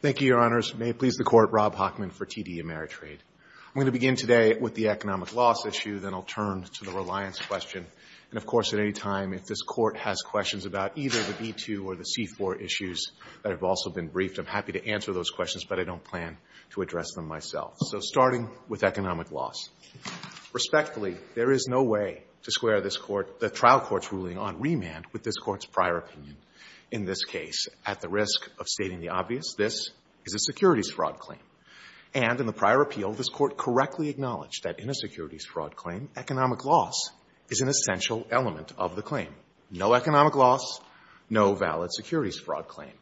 Thank you, Your Honors. May it please the Court, Rob Hockman for TD Ameritrade. I'm going to begin today with the economic loss issue, then I'll turn to the reliance question. And of course, at any time, if this Court has questions about either the B-2 or the C-4 issues that have also been briefed, I'm happy to answer those questions, but I don't plan to address them myself. So starting with economic loss. Respectfully, there is no way to square this Court the trial court's ruling on remand with this Court's prior opinion. In this case, at the risk of stating the obvious, this is a securities fraud claim. And in the prior appeal, this Court correctly acknowledged that in a securities fraud claim, economic loss is an essential element of the claim. No economic loss, no valid securities fraud claim.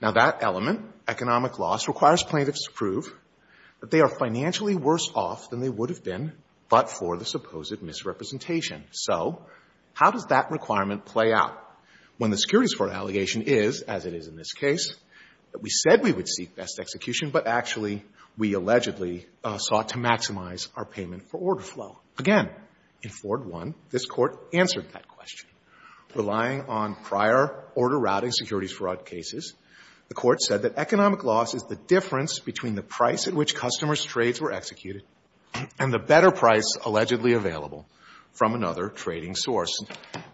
Now, that element, economic loss, requires plaintiffs to prove that they are financially worse off than they would have been but for the supposed misrepresentation. So how does that requirement play out when the securities fraud allegation is, as it is in this case, that we said we would seek best execution, but actually we allegedly sought to maximize our payment for order flow? Again, in Ford 1, this case, the Court said that economic loss is the difference between the price at which customers' trades were executed and the better price allegedly available from another trading source.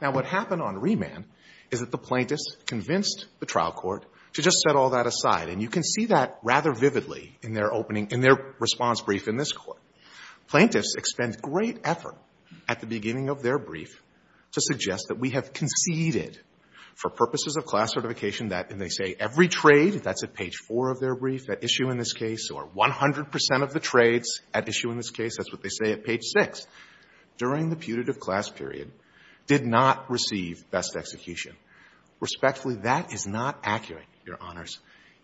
Now, what happened on remand is that the plaintiffs convinced the trial court to just set all that aside. And you can see that rather vividly in their opening, in their response brief in this Court. Plaintiffs expend great effort at the beginning of their brief to suggest that we have conceded, for purposes of class certification, that, and they say every trade, that's at page 4 of their brief, that issue in this case, or 100 percent of the trades at issue in this case, that's what they say at page 6, during the putative class period, did not receive best execution. Respectfully, that is not accurate, Your Honors.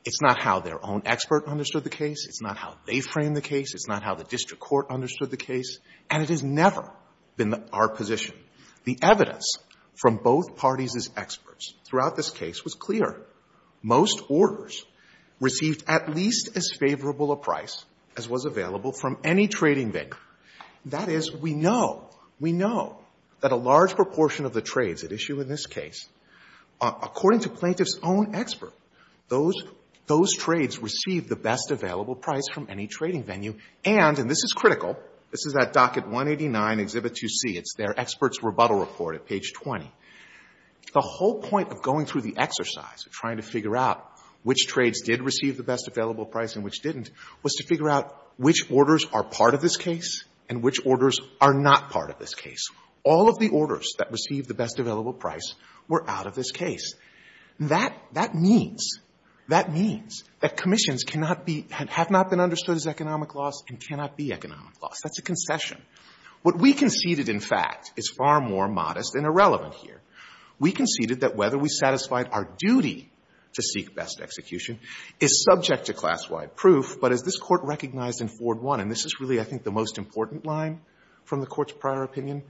It's not how their own expert understood the case. It's not how they framed the case. It's not how the district court understood the case. And it has never been our position. The evidence from both parties' experts throughout this case was clear. Most orders received at least as favorable a price as was available from any trading venue. That is, we know, we know that a large proportion of the trades at issue in this case, according to plaintiffs' own expert, those, those trades received the best available price from any trading venue, and, and this is critical, this is that Docket 189, Exhibit 2C. It's their experts' rebuttal report at page 20. The whole point of going through the exercise, trying to figure out which trades did receive the best available price and which didn't, was to figure out which orders are part of this case and which orders are not part of this case. All of the orders that received the best available price were out of this case. That, that means, that means that commissions cannot be, have not been understood as economic loss and cannot be economic loss. That's a concession. What we conceded, in fact, is far more modest and irrelevant here. We conceded that whether we satisfied our duty to seek best execution is subject to class-wide proof, but as this Court recognized in Ford I, and this is really, I think, the most important line from the Court's prior opinion,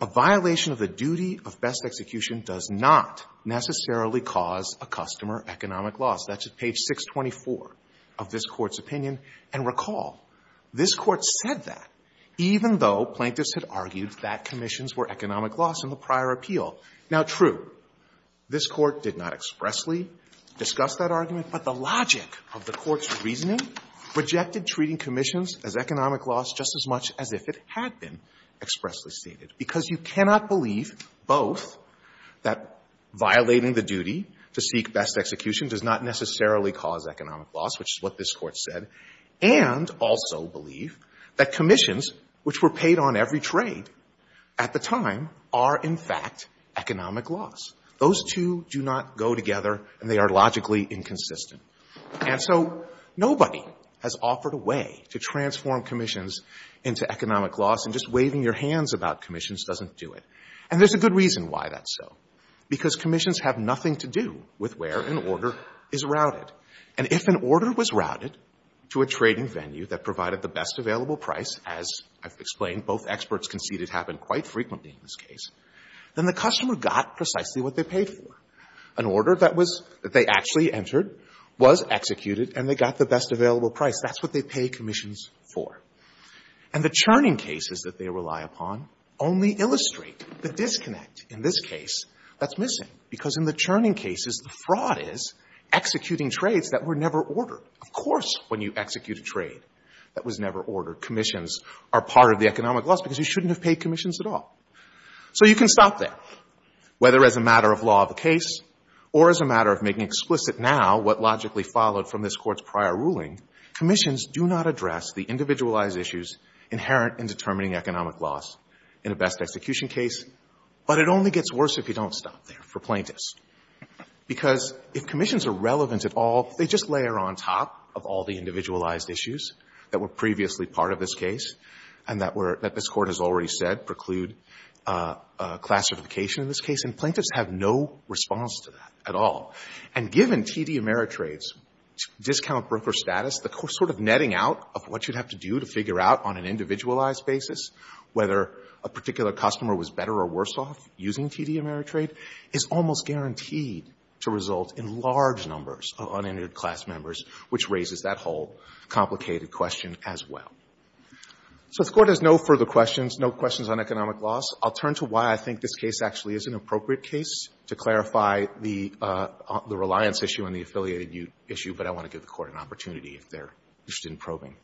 a violation of the duty of best execution does not necessarily cause a customer economic loss. That's at page 624 of this Court's opinion. And recall, this Court said that, even though plaintiffs had argued that commissions were economic loss in the prior appeal. Now, true, this Court did not expressly discuss that argument, but the logic of the Court's reasoning projected treating commissions as economic loss just as much as if it had been expressly stated, because you cannot believe both that violating the duty to seek best execution does not necessarily cause economic loss, which is what this Court said, and that And also believe that commissions, which were paid on every trade, at the time, are, in fact, economic loss. Those two do not go together, and they are logically inconsistent. And so nobody has offered a way to transform commissions into economic loss, and just waving your hands about commissions doesn't do it. And there's a good reason why that's so, because commissions have nothing to do with where an order is routed. And if an order was routed to a trading venue that provided the best available price, as I've explained, both experts conceded happened quite frequently in this case, then the customer got precisely what they paid for. An order that was — that they actually entered was executed, and they got the best available price. That's what they pay commissions for. And the churning cases that they rely upon only illustrate the disconnect in this case that's missing, because in the churning cases, the fraud is executing trades that were never ordered. Of course, when you execute a trade that was never ordered, commissions are part of the economic loss, because you shouldn't have paid commissions at all. So you can stop there. Whether as a matter of law of the case or as a matter of making explicit now what logically followed from this Court's prior ruling, commissions do not address the individualized issues inherent in determining economic loss in a best execution case, but it only gets worse if you don't stop there for plaintiffs. Because if commissions are relevant at all, they just layer on top of all the individualized issues that were previously part of this case and that were — that this Court has already said preclude classification in this case, and plaintiffs have no response to that at all. And given TD Ameritrade's discount broker status, the sort of netting out of what you'd have to do to figure out on an individualized basis whether a particular customer was better or worse off using TD Ameritrade is almost guaranteed to result in large numbers of uninherited class members, which raises that whole complicated question as well. So if the Court has no further questions, no questions on economic loss, I'll turn to why I think this case actually is an appropriate case to clarify the reliance issue and the affiliated issue, but I want to give the Court an opportunity if they're interested in probing.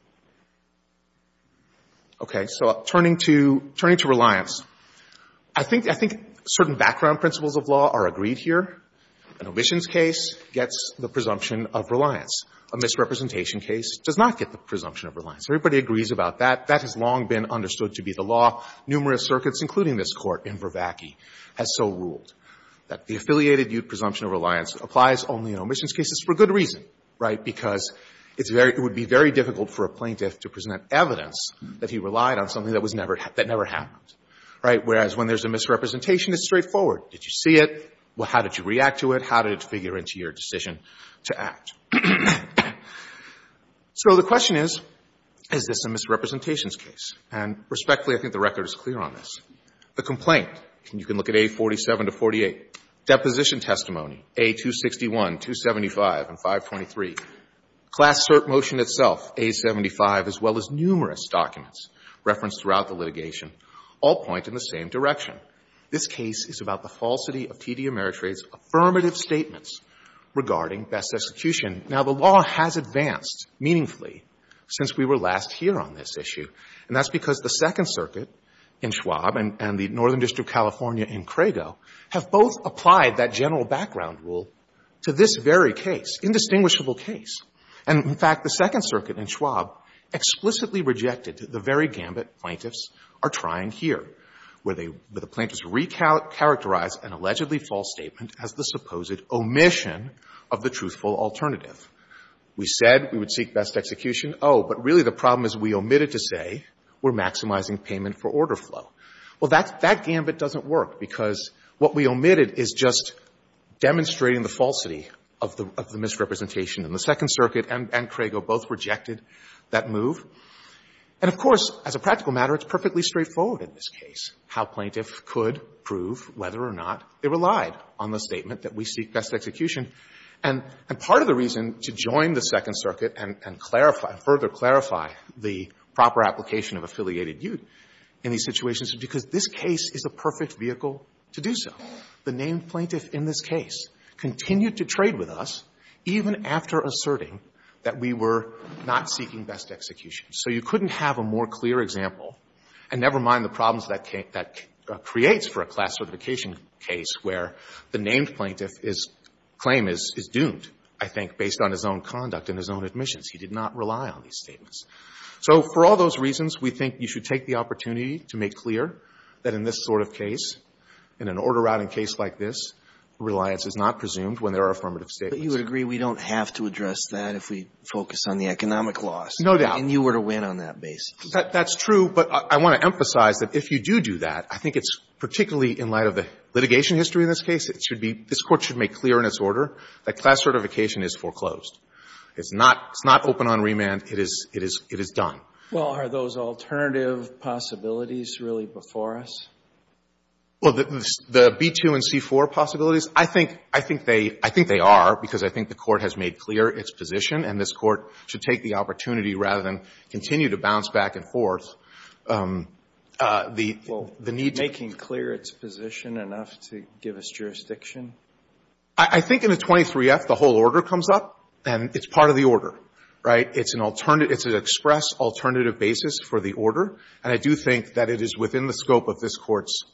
Okay. So turning to — turning to reliance, I think — I think certain background principles of law are agreed here. An omissions case gets the presumption of reliance. A misrepresentation case does not get the presumption of reliance. Everybody agrees about that. That has long been understood to be the law. Numerous circuits, including this Court in Vervacchi, has so ruled that the affiliated presumption of reliance applies only in omissions cases for good reason, right? Because it's very — it would be very difficult for a plaintiff to present evidence that he relied on something that was never — that never happened, right? Whereas when there's a misrepresentation, it's straightforward. Did you see it? How did you react to it? How did it figure into your decision to act? So the question is, is this a misrepresentations case? And respectfully, I think the record is clear on this. The complaint, you can look at A47 to 48. Deposition testimony, A261, 275, and 523. Class cert motion itself, A75, as well as numerous documents referenced throughout the litigation, all point in the same direction. This case is about the falsity of T.D. Ameritrade's affirmative statements regarding best execution. Now, the law has advanced meaningfully since we were last here on this issue, and that's because the Second Circuit in Schwab and the Northern District, California, and Crago have both applied that general background rule to this very case, indistinguishable case. And, in fact, the Second Circuit in Schwab explicitly rejected the very gambit plaintiffs are trying here, where they — where the plaintiffs re-characterize an allegedly false statement as the supposed omission of the truthful alternative. We said we would seek best execution. Oh, but really the problem is we omitted to say we're maximizing payment for order flow. Well, that's — that gambit doesn't work, because what we omitted is just demonstrating the falsity of the — of the misrepresentation. And the Second Circuit and — and Crago both rejected that move. And, of course, as a practical matter, it's perfectly straightforward in this case how plaintiffs could prove whether or not they relied on the statement that we seek best execution. And — and part of the reason to join the Second Circuit and — and clarify — is because this case is the perfect vehicle to do so. The named plaintiff in this case continued to trade with us even after asserting that we were not seeking best execution. So you couldn't have a more clear example. And never mind the problems that came — that creates for a class certification case where the named plaintiff is — claim is — is doomed, I think, based on his own conduct and his own admissions. He did not rely on these statements. So for all those reasons, we think you should take the opportunity to make clear that in this sort of case, in an order-routing case like this, reliance is not presumed when there are affirmative statements. But you would agree we don't have to address that if we focus on the economic loss. No doubt. And you were to win on that basis. That's true. But I want to emphasize that if you do do that, I think it's — particularly in light of the litigation history in this case, it should be — this Court should make clear in its order that class certification is foreclosed. It's not — it's not open-on-remand. It is — it is — it is done. Well, are those alternative possibilities really before us? Well, the — the B-2 and C-4 possibilities, I think — I think they — I think they are, because I think the Court has made clear its position. And this Court should take the opportunity, rather than continue to bounce back and forth, the — the need to — Well, making clear its position enough to give us jurisdiction? I think in the 23-F, the whole order comes up. And it's part of the order, right? It's an alternative — it's an express alternative basis for the order. And I do think that it is within the scope of this Court's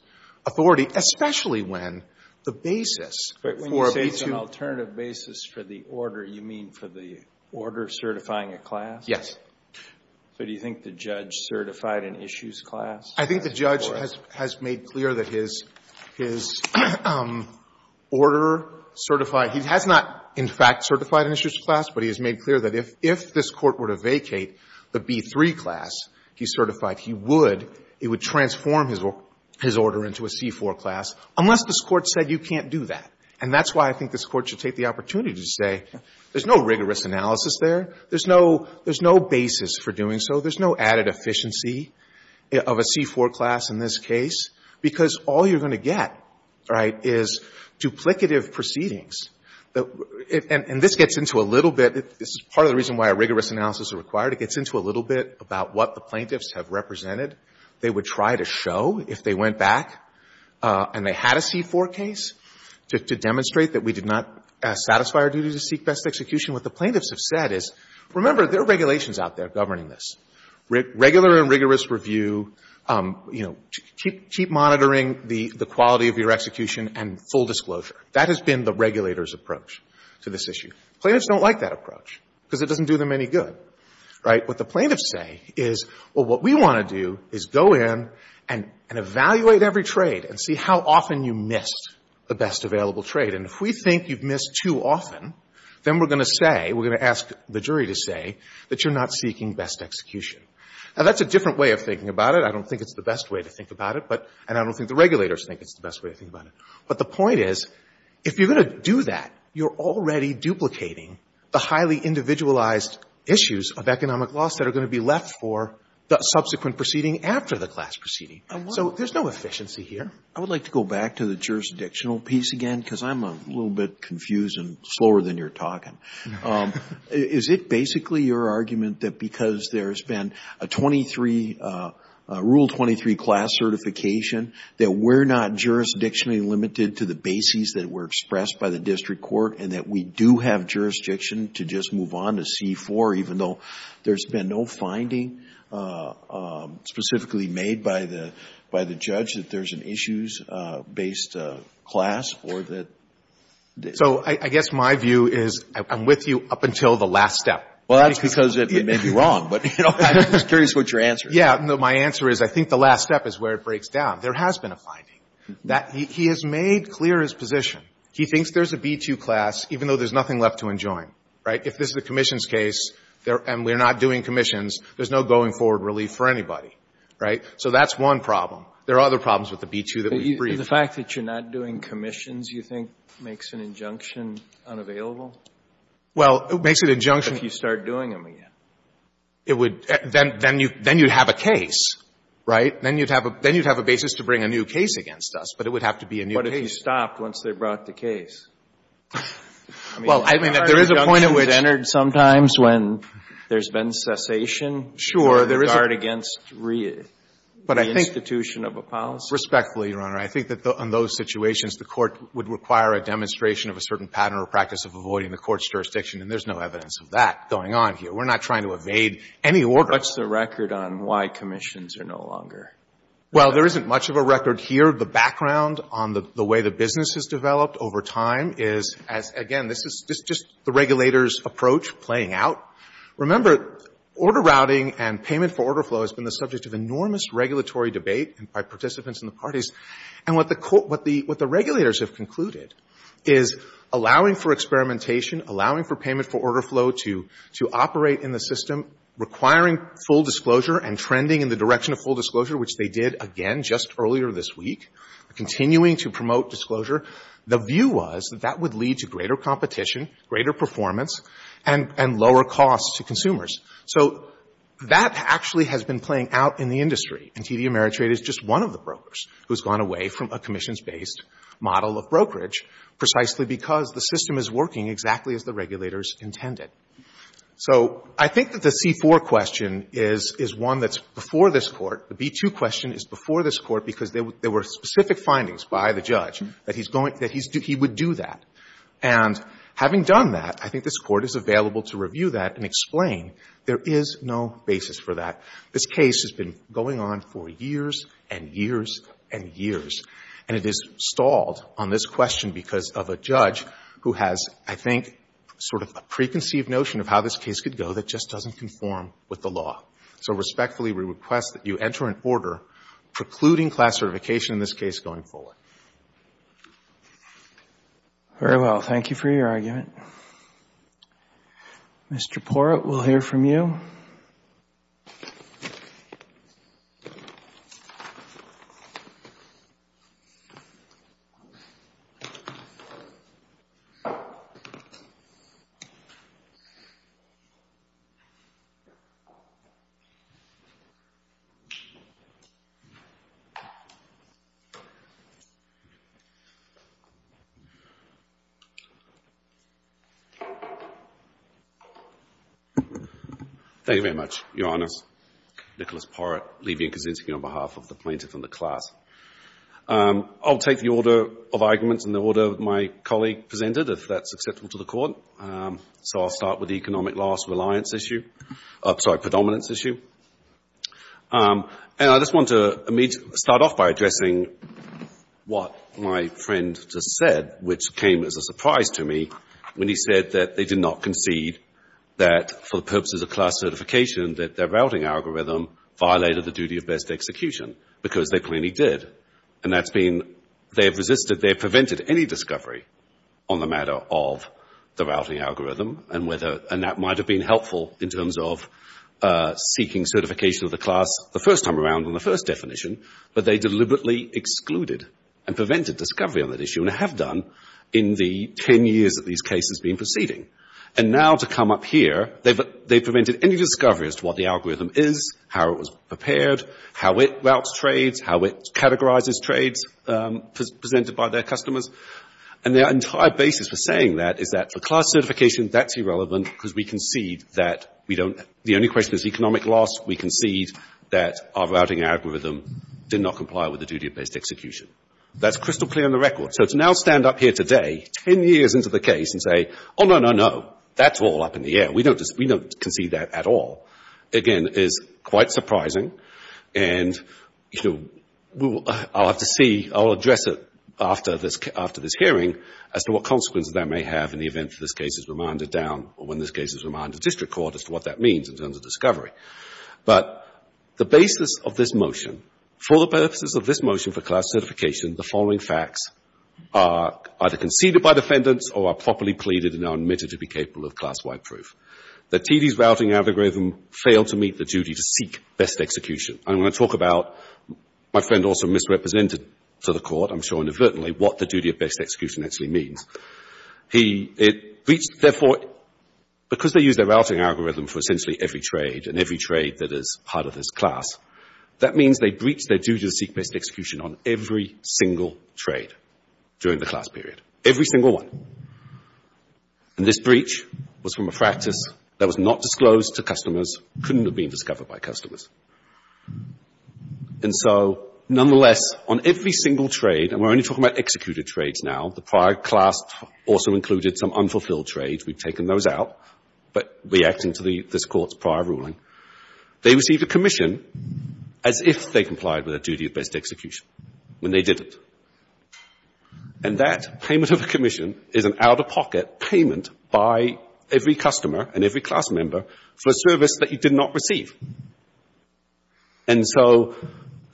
authority, especially when the basis for a B-2 — But when you say it's an alternative basis for the order, you mean for the order certifying a class? Yes. So do you think the judge certified an issues class? I think the judge has — has made clear that his — his order certified — he has not, in fact, certified an issues class, but he has made clear that if — if this Court were to vacate the B-3 class he certified, he would — it would transform his — his order into a C-4 class, unless this Court said you can't do that. And that's why I think this Court should take the opportunity to say there's no rigorous analysis there, there's no — there's no basis for doing so, there's no added efficiency of a C-4 class in this case, because all you're going to get, right, is duplicative proceedings. And this gets into a little bit — this is part of the reason why a rigorous analysis is required. It gets into a little bit about what the plaintiffs have represented. They would try to show, if they went back and they had a C-4 case, to — to demonstrate that we did not satisfy our duty to seek best execution. What the plaintiffs have said is, remember, there are regulations out there governing this. Regular and rigorous review, you know, keep — keep monitoring the — the quality of your execution and full disclosure. That has been the regulators' approach to this issue. Plaintiffs don't like that approach, because it doesn't do them any good, right? What the plaintiffs say is, well, what we want to do is go in and — and evaluate every trade and see how often you missed the best available trade. And if we think you've missed too often, then we're going to say — we're going to ask the jury to say that you're not seeking best execution. Now, that's a different way of thinking about it. I don't think it's the best way to think about it, but — and I don't think the regulators think it's the best way to think about it. But the point is, if you're going to do that, you're already duplicating the highly individualized issues of economic loss that are going to be left for the subsequent proceeding after the class proceeding. So there's no efficiency here. I would like to go back to the jurisdictional piece again, because I'm a little bit confused and slower than you're talking. Is it basically your argument that because there's been a 23 — a Rule 23 class certification, that we're not jurisdictionally limited to the bases that were expressed by the district court and that we do have jurisdiction to just move on to C-4, even though there's been no finding specifically made by the — by the judge that there's an issues-based class or that — So I guess my view is I'm with you up until the last step. Well, that's because it may be wrong, but I'm just curious what your answer is. Yeah. No, my answer is I think the last step is where it breaks down. There has been a finding that he has made clear his position. He thinks there's a B-2 class, even though there's nothing left to enjoin, right? If this is a commissions case and we're not doing commissions, there's no going forward relief for anybody, right? So that's one problem. There are other problems with the B-2 that we've briefed. The fact that you're not doing commissions, you think, makes an injunction unavailable? Well, it makes an injunction — But if you start doing them again. It would — then — then you — then you'd have a case, right? Then you'd have a — then you'd have a basis to bring a new case against us. But it would have to be a new case. But if you stopped once they brought the case. Well, I mean, if there is a point it would — I mean, are injunctions entered sometimes when there's been cessation — Sure. — in regard against reinstitution of a policy? Respectfully, Your Honor, I think that on those situations, the Court would require a demonstration of a certain pattern or practice of avoiding the Court's jurisdiction, and there's no evidence of that going on here. We're not trying to evade any order. What's the record on why commissions are no longer — Well, there isn't much of a record here. The background on the way the business has developed over time is, as — again, this is just the regulators' approach playing out. Remember, order routing and payment for order flow has been the subject of enormous regulatory debate by participants in the parties. And what the — what the regulators have concluded is allowing for experimentation, allowing for payment for order flow to — to operate in the system, requiring full disclosure and trending in the direction of full disclosure, which they did, again, just earlier this week, continuing to promote disclosure. The view was that that would lead to greater competition, greater performance, and — and lower costs to consumers. So that actually has been playing out in the industry. And TD Ameritrade is just one of the brokers who has gone away from a commissions-based model of brokerage precisely because the system is working exactly as the regulators intended. So I think that the C-4 question is — is one that's before this Court. The B-2 question is before this Court because there were specific findings by the judge that he's going — that he would do that. And having done that, I think this Court is available to review that and explain there is no basis for that. This case has been going on for years and years and years. And it is stalled on this question because of a judge who has, I think, sort of a preconceived notion of how this case could go that just doesn't conform with the law. So respectfully, we request that you enter an order precluding class certification in this case going forward. Very well. Thank you for your argument. Mr. Porat, we'll hear from you. Thank you very much, Your Honors. Nicholas Porat, Levy & Kosinski on behalf of the plaintiff and the class. I'll take the order of arguments in the order my colleague presented, if that's acceptable to the Court. So I'll start with the economic loss reliance issue — sorry, predominance issue. And I just want to start off by addressing what my friend just said, which came as a surprise to me when he said that they did not concede that, for the purposes of class certification, that their routing algorithm violated the duty of best execution because they clearly did. And that's been — they've resisted — they've prevented any discovery on the matter of the routing algorithm and whether — and that might have been helpful in terms of seeking certification of the class the first time around on the first definition, but they deliberately excluded and prevented discovery on that issue and have done in the 10 years that these cases have been proceeding. And now to come up here, they've prevented any discovery as to what the algorithm is, how it was prepared, how it routes trades, how it categorizes trades presented by their customers. And their entire basis for saying that is that, for class certification, that's irrelevant because we concede that we don't — the only question is economic loss. We concede that our routing algorithm did not comply with the duty of best execution. That's crystal clear on the record. So to now stand up here today, 10 years into the case, and say, oh, no, no, no, that's all up in the air. We don't concede that at all, again, is quite surprising. And, you know, I'll have to see — I'll address it after this hearing as to what consequences that may have in the event that this case is remanded down or when this case is remanded to district court as to what that means in terms of discovery. But the basis of this motion, for the purposes of this motion for class certification, the following facts are either conceded by defendants or are properly pleaded and are admitted to be capable of class-wide proof. That TD's routing algorithm failed to meet the duty to seek best execution. And when I talk about — my friend also misrepresented to the court, I'm sure, inadvertently, what the duty of best execution actually means. He — it breached — therefore, because they used their routing algorithm for essentially every trade and every trade that is part of this class, that means they breached their duty to seek best execution on every single trade during the class period. Every single one. And this breach was from a practice that was not disclosed to customers, couldn't have been discovered by customers. And so, nonetheless, on every single trade — and we're only talking about executed trades now, the prior class also included some unfulfilled trades, we've taken those out, but reacting to this court's prior ruling — they received a commission as if they complied with their duty of best execution when they didn't. And that payment of a commission is an out-of-pocket payment by every customer and every class member for a service that you did not receive. And so,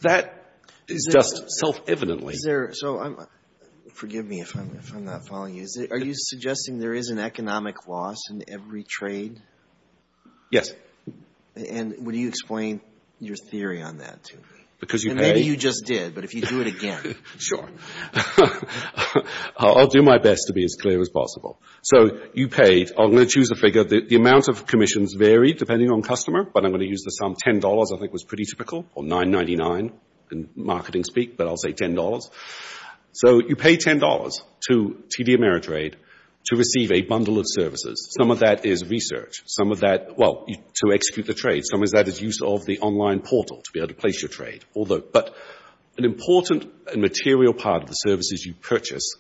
that is just self-evidently — Is there — so, forgive me if I'm not following you. Are you suggesting there is an economic loss in every trade? Yes. And would you explain your theory on that to me? Because you paid — And maybe you just did, but if you do it again — Sure. I'll do my best to be as clear as possible. So, you paid — I'm going to choose a figure — the amount of commissions varied depending on customer, but I'm going to use the sum — $10 I think was pretty typical, or $9.99 in marketing speak, but I'll say $10. So, you pay $10 to TD Ameritrade to receive a bundle of services. Some of that is research, some of that — well, to execute the trade, some of that is use of the online portal to be able to place your trade. Although — but an important and material part of the services you purchase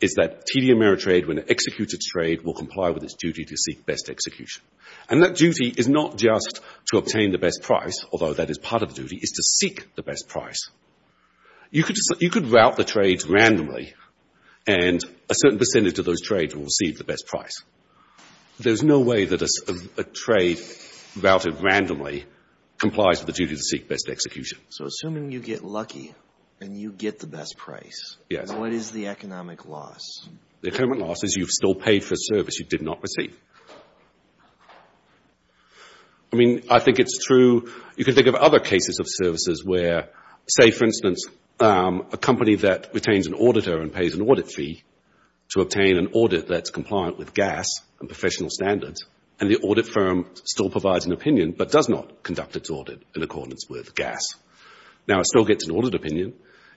is that TD Ameritrade, when it executes its trade, will comply with its duty to seek best execution. And that duty is not just to obtain the best price, although that is part of the duty, it's to seek the best price. You could route the trades randomly, and a certain percentage of those trades will receive the best price. There's no way that a trade routed randomly complies with the duty to seek best execution. So, assuming you get lucky and you get the best price, what is the economic loss? The economic loss is you've still paid for a service you did not receive. I mean, I think it's true — you can think of other cases of services where, say, for instance, a company that retains an auditor and pays an audit fee to obtain an audit that's compliant with GAAS and professional standards, and the audit firm still provides an opinion, but does not conduct its audit in accordance with GAAS. Now, it still gets an audit opinion,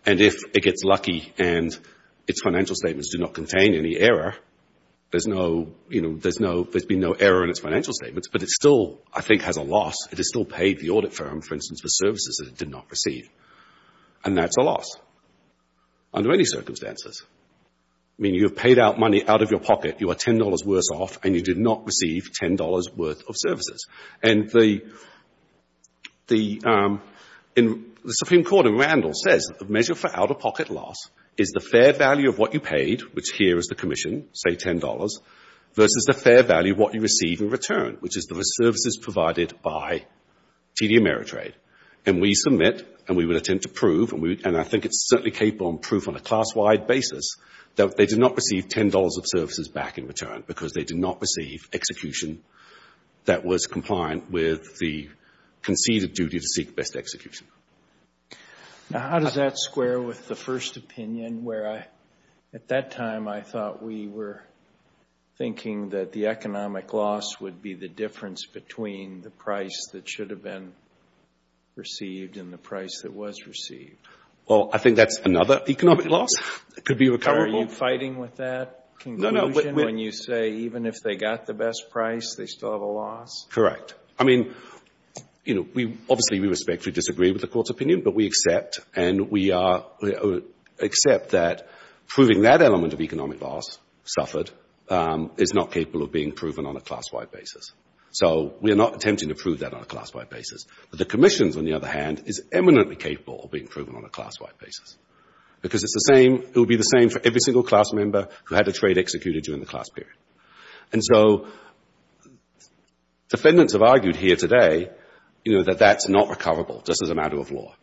and if it gets lucky and its financial statements do not contain any error, there's been no error in its financial statements, but it still, I think, has a loss. It has still paid the audit firm, for instance, for services that it did not receive. And that's a loss under any circumstances. I mean, you have paid out money out of your pocket, you are $10 worse off, and you did not receive $10 worth of services. And the Supreme Court in Randall says the measure for out-of-pocket loss is the fair value of what you paid, which here is the commission, say $10, versus the fair value of what you receive in return, which is the services provided by TD Ameritrade. And we submit, and we will attempt to prove, and I think it's certainly capable of proof on a class-wide basis, that they did not receive $10 of services back in return because they did not receive execution that was compliant with the conceded duty to seek best execution. Now, how does that square with the first opinion, where at that time I thought we were thinking that the economic loss would be the difference between the price that should have been received and the price that was received? Well, I think that's another economic loss. It could be recoverable. Are you fighting with that conclusion when you say, even if they got the best price, they still have a loss? Correct. I mean, obviously we respectfully disagree with the court's opinion, but we accept that proving that element of economic loss suffered is not capable of being proven on a class-wide basis. So we are not attempting to prove that on a class-wide basis. But the commission, on the other hand, is eminently capable of being proven on a class-wide basis because it will be the same for every single class member who had a trade executed during the class period. And so defendants have argued here today, you know, that that's not recoverable, just as a matter of law.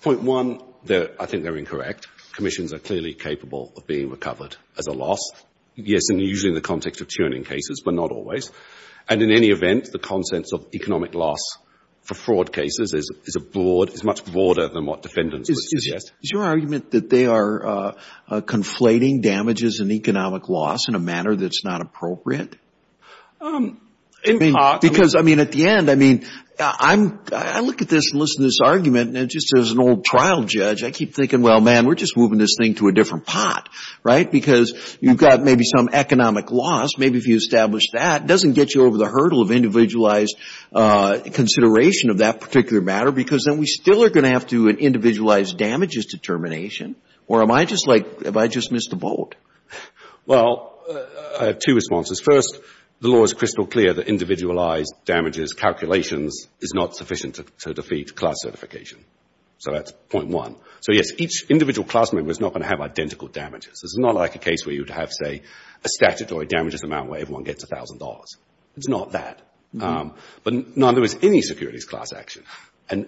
Point one, I think they're incorrect. Commissions are clearly capable of being recovered as a loss. Yes, and usually in the context of churning cases, but not always. And in any event, the contents of economic loss for fraud cases is much broader than what defendants would suggest. Is your argument that they are conflating damages and economic loss in a manner that's not appropriate? Because, I mean, at the end, I mean, I look at this and listen to this argument, and just as an old trial judge, I keep thinking, well, man, we're just moving this thing to a different pot, right? Because you've got maybe some economic loss. Maybe if you establish that, it doesn't get you over the hurdle of individualized consideration of that particular matter, because then we still are going to have to do an individualized damages determination. Or am I just like, have I just missed the boat? Well, I have two responses. First, the law is crystal clear that individualized damages calculations is not sufficient to defeat class certification. So that's point one. So yes, each individual class member is not going to have identical damages. This is not like a case where you'd have, say, a statutory damages amount where everyone gets $1,000. It's not that. But neither is any securities class action. And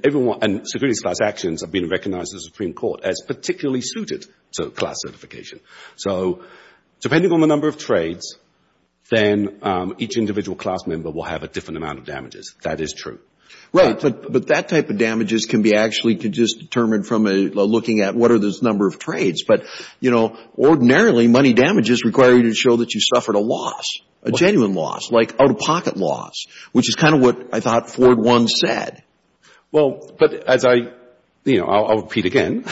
securities class actions have been recognized in the Supreme Court as particularly suited to class certification. So depending on the number of trades, then each individual class member will have a different amount of damages. That is true. Right, but that type of damages can be actually just determined from looking at what are those number of trades. But, you know, ordinarily, money damages require you to show that you suffered a loss, a genuine loss, like out-of-pocket loss, which is kind of what I thought Ford once said. Well, but as I, you know, I'll repeat again,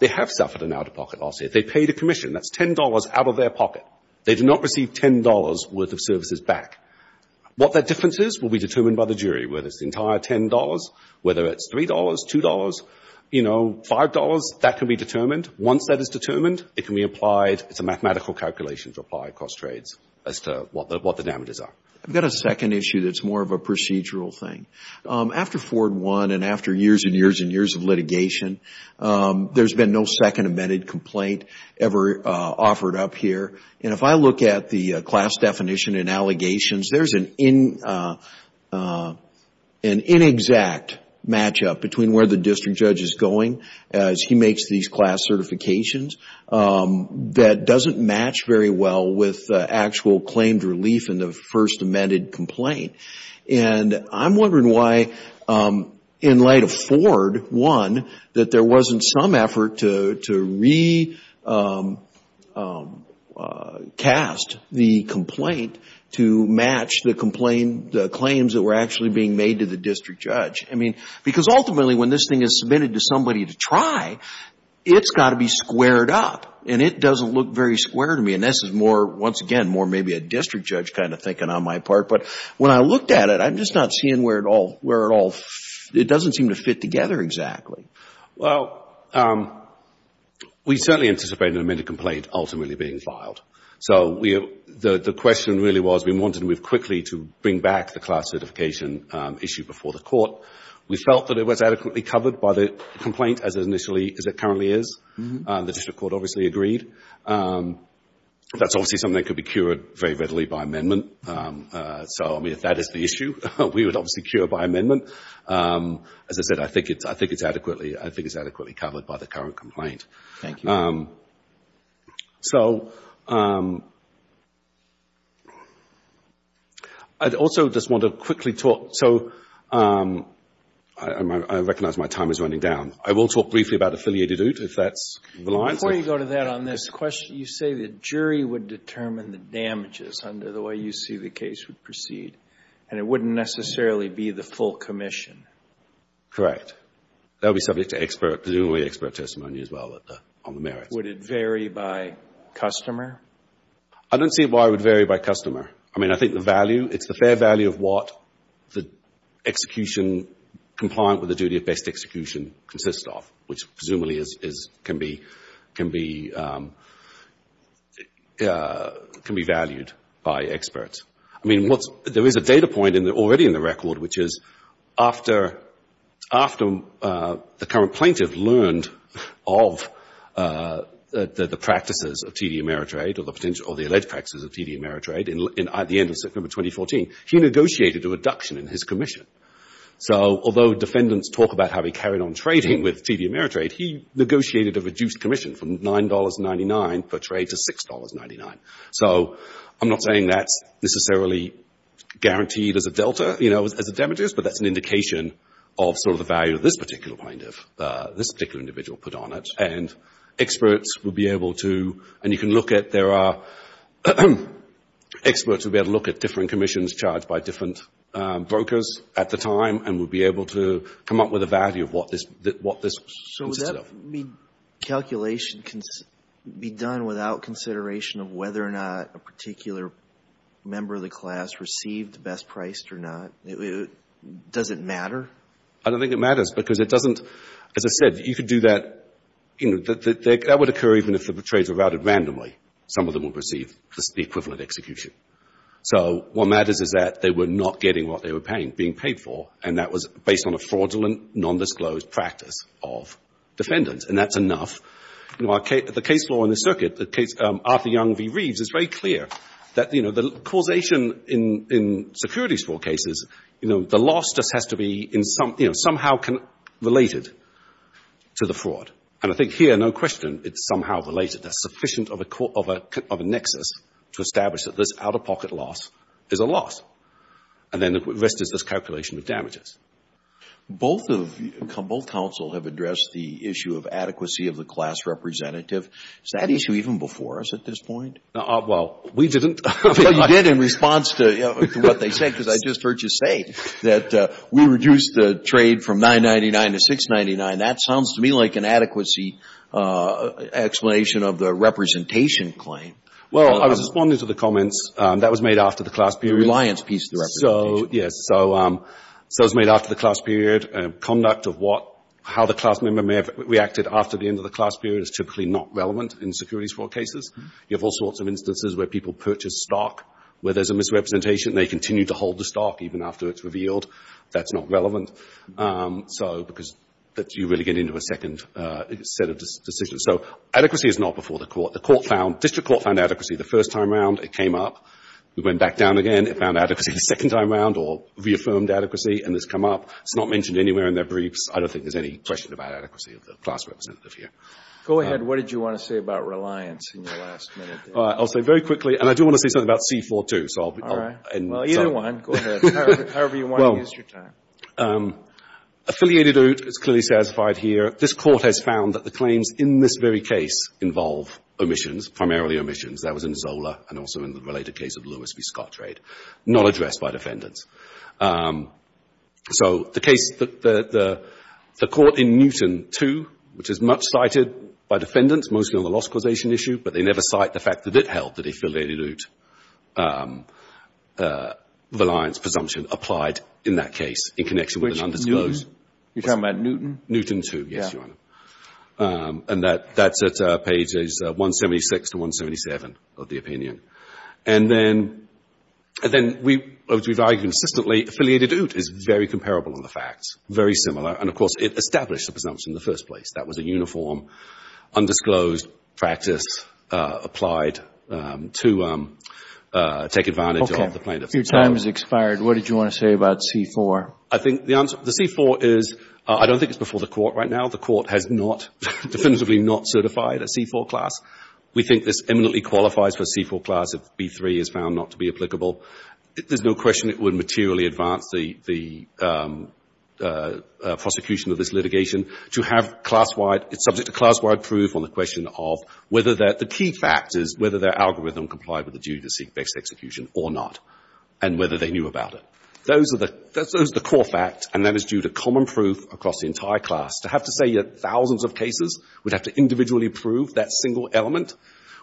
they have suffered an out-of-pocket loss. If they paid a commission, that's $10 out of their pocket. They do not receive $10 worth of services back. What that difference is will be determined by the jury. Whether it's the entire $10, whether it's $3, $2, you know, $5, that can be determined. Once that is determined, it can be applied. It's a mathematical calculation to apply across trades as to what the damages are. I've got a second issue that's more of a procedural thing. After Ford won and after years and years and years of litigation, there's been no second amended complaint ever offered up here. And if I look at the class definition and allegations, there's an inexact match-up between where the district judge is going as he makes these class certifications that doesn't match very well with actual claimed relief in the first amended complaint. And I'm wondering why, in light of Ford won, that there wasn't some effort to recast the complaint to match the claims that were actually being made to the district judge. I mean, because ultimately when this thing is submitted to somebody to try, it's got to be squared up. And it doesn't look very square to me. And this is more, once again, more maybe a district judge kind of thinking on my part. But when I looked at it, I'm just not seeing where it all, it doesn't seem to fit together exactly. Well, we certainly anticipated an amended complaint ultimately being filed. So the question really was we wanted to move quickly to bring back the class certification issue before the court. We felt that it was adequately covered by the complaint as it initially, as it currently is. The district court obviously agreed. That's obviously something that could be cured very readily by amendment. So, I mean, if that is the issue, we would obviously cure by amendment. As I said, I think it's adequately covered by the current complaint. Thank you. So... I'd also just want to quickly talk. So, I recognize my time is running down. I will talk briefly about affiliated oot, if that's the line. Before you go to that on this question, you say the jury would determine the damages under the way you see the case would proceed. And it wouldn't necessarily be the full commission. Correct. That would be subject to expert, presumably expert testimony as well on the merits. Would it vary by customer? I don't see why it would vary by customer. I mean, I think the value, it's the fair value of what the execution compliant with the duty of best execution consists of, which presumably can be valued by experts. I mean, there is a data point already in the record, which is after the current plaintiff learned of the practices of TD Ameritrade or the alleged practices of TD Ameritrade at the end of September 2014, he negotiated a reduction in his commission. So, although defendants talk about how he carried on trading with TD Ameritrade, he negotiated a reduced commission from $9.99 per trade to $6.99. So, I'm not saying that's necessarily guaranteed as a delta, you know, as a damages, but that's an indication of sort of the value of this particular plaintiff, this particular individual put on it. And experts would be able to, and you can look at, there are experts would be able to look at different commissions charged by different brokers at the time and would be able to come up with a value of what this consisted of. So, would that calculation be done without consideration of whether or not a particular member of the class received best priced or not? Does it matter? I don't think it matters because it doesn't, as I said, you could do that, you know, that would occur even if the trades were routed randomly. Some of them will receive the equivalent execution. So, what matters is that they were not getting what they were being paid for and that was based on a fraudulent, nondisclosed practice of defendants. And that's enough. You know, the case law in the circuit, the case Arthur Young v. Reeves, is very clear that, you know, the causation in security fraud cases, you know, the loss just has to be somehow related to the fraud. And I think here, no question, it's somehow related. There's sufficient of a nexus to establish that this out-of-pocket loss is a loss. And then the rest is this calculation of damages. Both of you, both counsel have addressed the issue of adequacy of the class representative. Is that issue even before us at this point? No, well, we didn't. You did in response to what they said because I just heard you say that we reduced the trade from $999 to $699. That sounds to me like an adequacy explanation of the representation claim. Well, I was responding to the comments that was made after the class period. Reliance piece of the representation. Yes, so it was made after the class period. Conduct of what, how the class member may have reacted after the end of the class period is typically not relevant in security fraud cases. You have all sorts of instances where people purchase stock where there's a misrepresentation. They continue to hold the stock even after it's revealed. That's not relevant. So, because you really get into a second set of decisions. So, adequacy is not before the court. The court found, district court found adequacy the first time around. It came up. We went back down again. It found adequacy the second time around or reaffirmed adequacy and it's come up. It's not mentioned anywhere in their briefs. I don't think there's any question about adequacy of the class representative here. Go ahead. What did you want to say about reliance in your last minute? I'll say very quickly, and I do want to say something about C-4-2. All right. Well, you don't want. Go ahead. However you want to use your time. Affiliated OOT is clearly satisfied here. This court has found that the claims in this very case involve omissions, primarily omissions. That was in Zola and also in the related case of Lewis v. Scottrade. Not addressed by defendants. So, the case, the court in Newton 2, which is much cited by defendants, mostly on the loss causation issue, but they never cite the fact that it held that affiliated OOT reliance presumption applied in that case in connection with an undisclosed. Which Newton? You're talking about Newton? Newton 2, yes, Your Honor. And that's at pages 176 to 177 of the opinion. And then, as we've argued consistently, affiliated OOT is very comparable in the facts. Very similar. And of course, it established the presumption in the first place. That was a uniform, undisclosed practice applied to take advantage of the plaintiff. Your time has expired. What did you want to say about C-4? I think the answer, the C-4 is, I don't think it's before the court right now. The court has not, definitively not certified a C-4 class. We think this eminently qualifies for a C-4 class if B-3 is found not to be applicable. There's no question it would materially advance the prosecution of this litigation. To have class-wide, it's subject to class-wide proof on the question of whether that, the key fact is whether their algorithm complied with the duty to seek best execution or not. And whether they knew about it. Those are the core facts. And that is due to common proof across the entire class. To have to say you have thousands of cases, we'd have to individually prove that single element,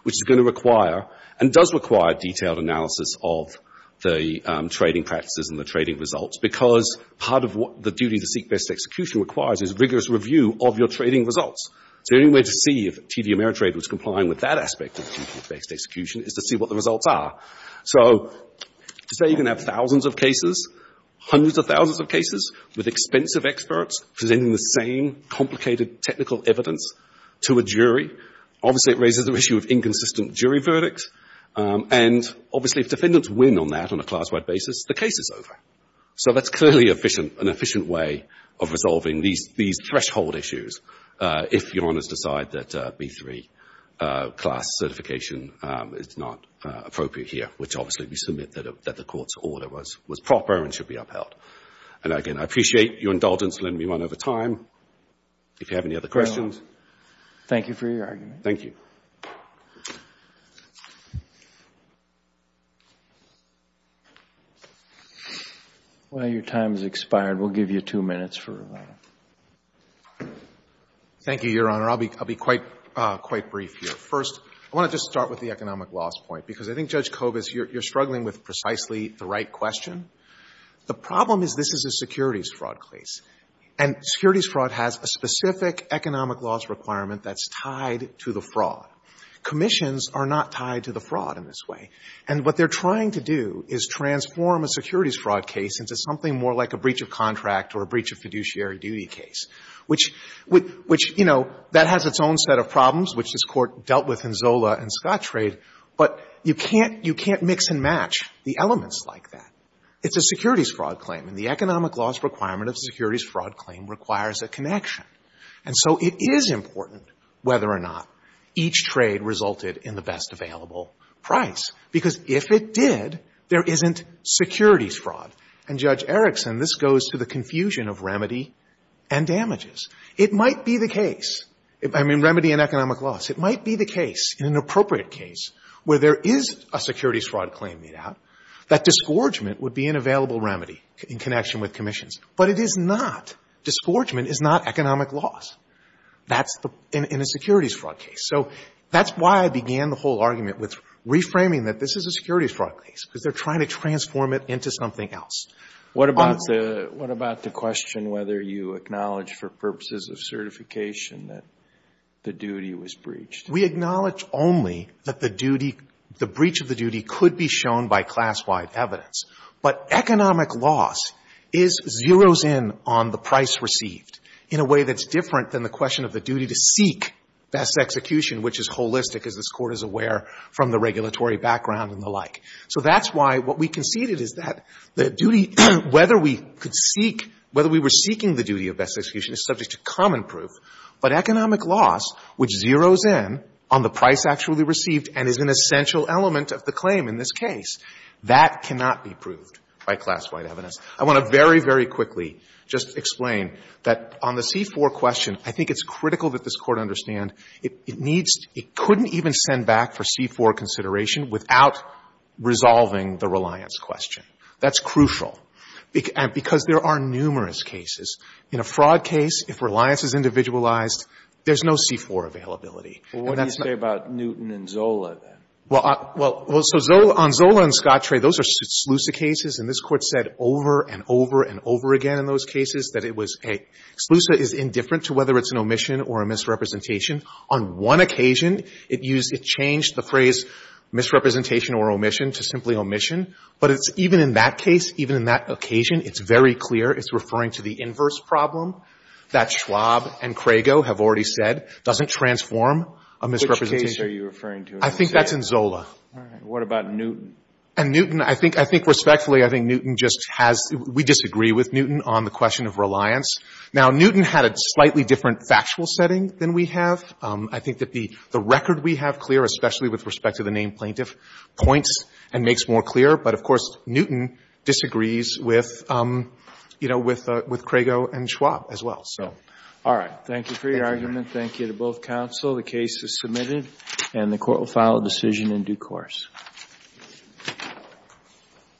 which is going to require, and does require, detailed analysis of the trading practices and the trading results. Because part of what the duty to seek best execution requires is rigorous review of your trading results. The only way to see if TD Ameritrade was complying with that aspect of duty-based execution is to see what the results are. So to say you can have thousands of cases, hundreds of thousands of cases, with expensive experts presenting the same complicated technical evidence to a jury, obviously it raises the issue of inconsistent jury verdicts. And obviously if defendants win on that, on a class-wide basis, the case is over. So that's clearly an efficient way of resolving these threshold issues if your honors decide that B3 class certification is not appropriate here. Which obviously we submit that the court's order was proper and should be upheld. And again, I appreciate your indulgence in letting me run over time. If you have any other questions. Thank you for your argument. Thank you. Well, your time has expired. We'll give you two minutes for rebuttal. Thank you, Your Honor. I'll be quite brief here. First, I want to just start with the economic loss point. Because I think, Judge Kovas, you're struggling with precisely the right question. The problem is this is a securities fraud case. And securities fraud has a specific economic loss requirement that's tied to the fraud. Commissions are not tied to the fraud in this way. And what they're trying to do is transform a securities fraud case into something more like a breach of contract or a breach of fiduciary duty case. Which, you know, that has its own set of problems, which this Court dealt with in Zola and Scott's trade. But you can't mix and match the elements like that. It's a securities fraud claim. And the economic loss requirement of a securities fraud claim requires a connection. And so it is important whether or not each trade resulted in the best available price. Because if it did, there isn't securities fraud. And, Judge Erickson, this goes to the confusion of remedy and damages. It might be the case, I mean, remedy and economic loss. It might be the case, an appropriate case, where there is a securities fraud claim made out, that disgorgement would be an available remedy in connection with commissions. But it is not. Disgorgement is not economic loss. That's in a securities fraud case. So that's why I began the whole argument with reframing that this is a securities fraud case, because they're trying to transform it into something else. What about the question whether you acknowledge for purposes of certification that the duty was breached? We acknowledge only that the duty, the breach of the duty could be shown by class-wide evidence. But economic loss is, zeroes in on the price received in a way that's different than the question of the duty to seek best execution, which is holistic, as this So that's why what we conceded is that the duty, whether we could seek, whether we were seeking the duty of best execution is subject to common proof, but economic loss, which zeroes in on the price actually received and is an essential element of the claim in this case, that cannot be proved by class-wide evidence. I want to very, very quickly just explain that on the C-4 question, I think it's without resolving the reliance question. That's crucial, because there are numerous cases. In a fraud case, if reliance is individualized, there's no C-4 availability. And that's not Well, what do you say about Newton and Zola, then? Well, on Zola and Scottray, those are SLUSA cases, and this Court said over and over and over again in those cases that SLUSA is indifferent to whether it's an omission or a misrepresentation. On one occasion, it used, it changed the phrase misrepresentation or omission to simply omission, but it's even in that case, even in that occasion, it's very clear, it's referring to the inverse problem that Schwab and Crago have already said doesn't transform a misrepresentation. Which case are you referring to? I think that's in Zola. All right. What about Newton? And Newton, I think, I think respectfully, I think Newton just has, we disagree with Newton on the question of reliance. Now, Newton had a slightly different factual setting than we have. I think that the record we have clear, especially with respect to the named plaintiff, points and makes more clear, but of course, Newton disagrees with, you know, with Crago and Schwab as well, so. All right. Thank you for your argument. Thank you to both counsel. The case is submitted, and the Court will file a decision in due course.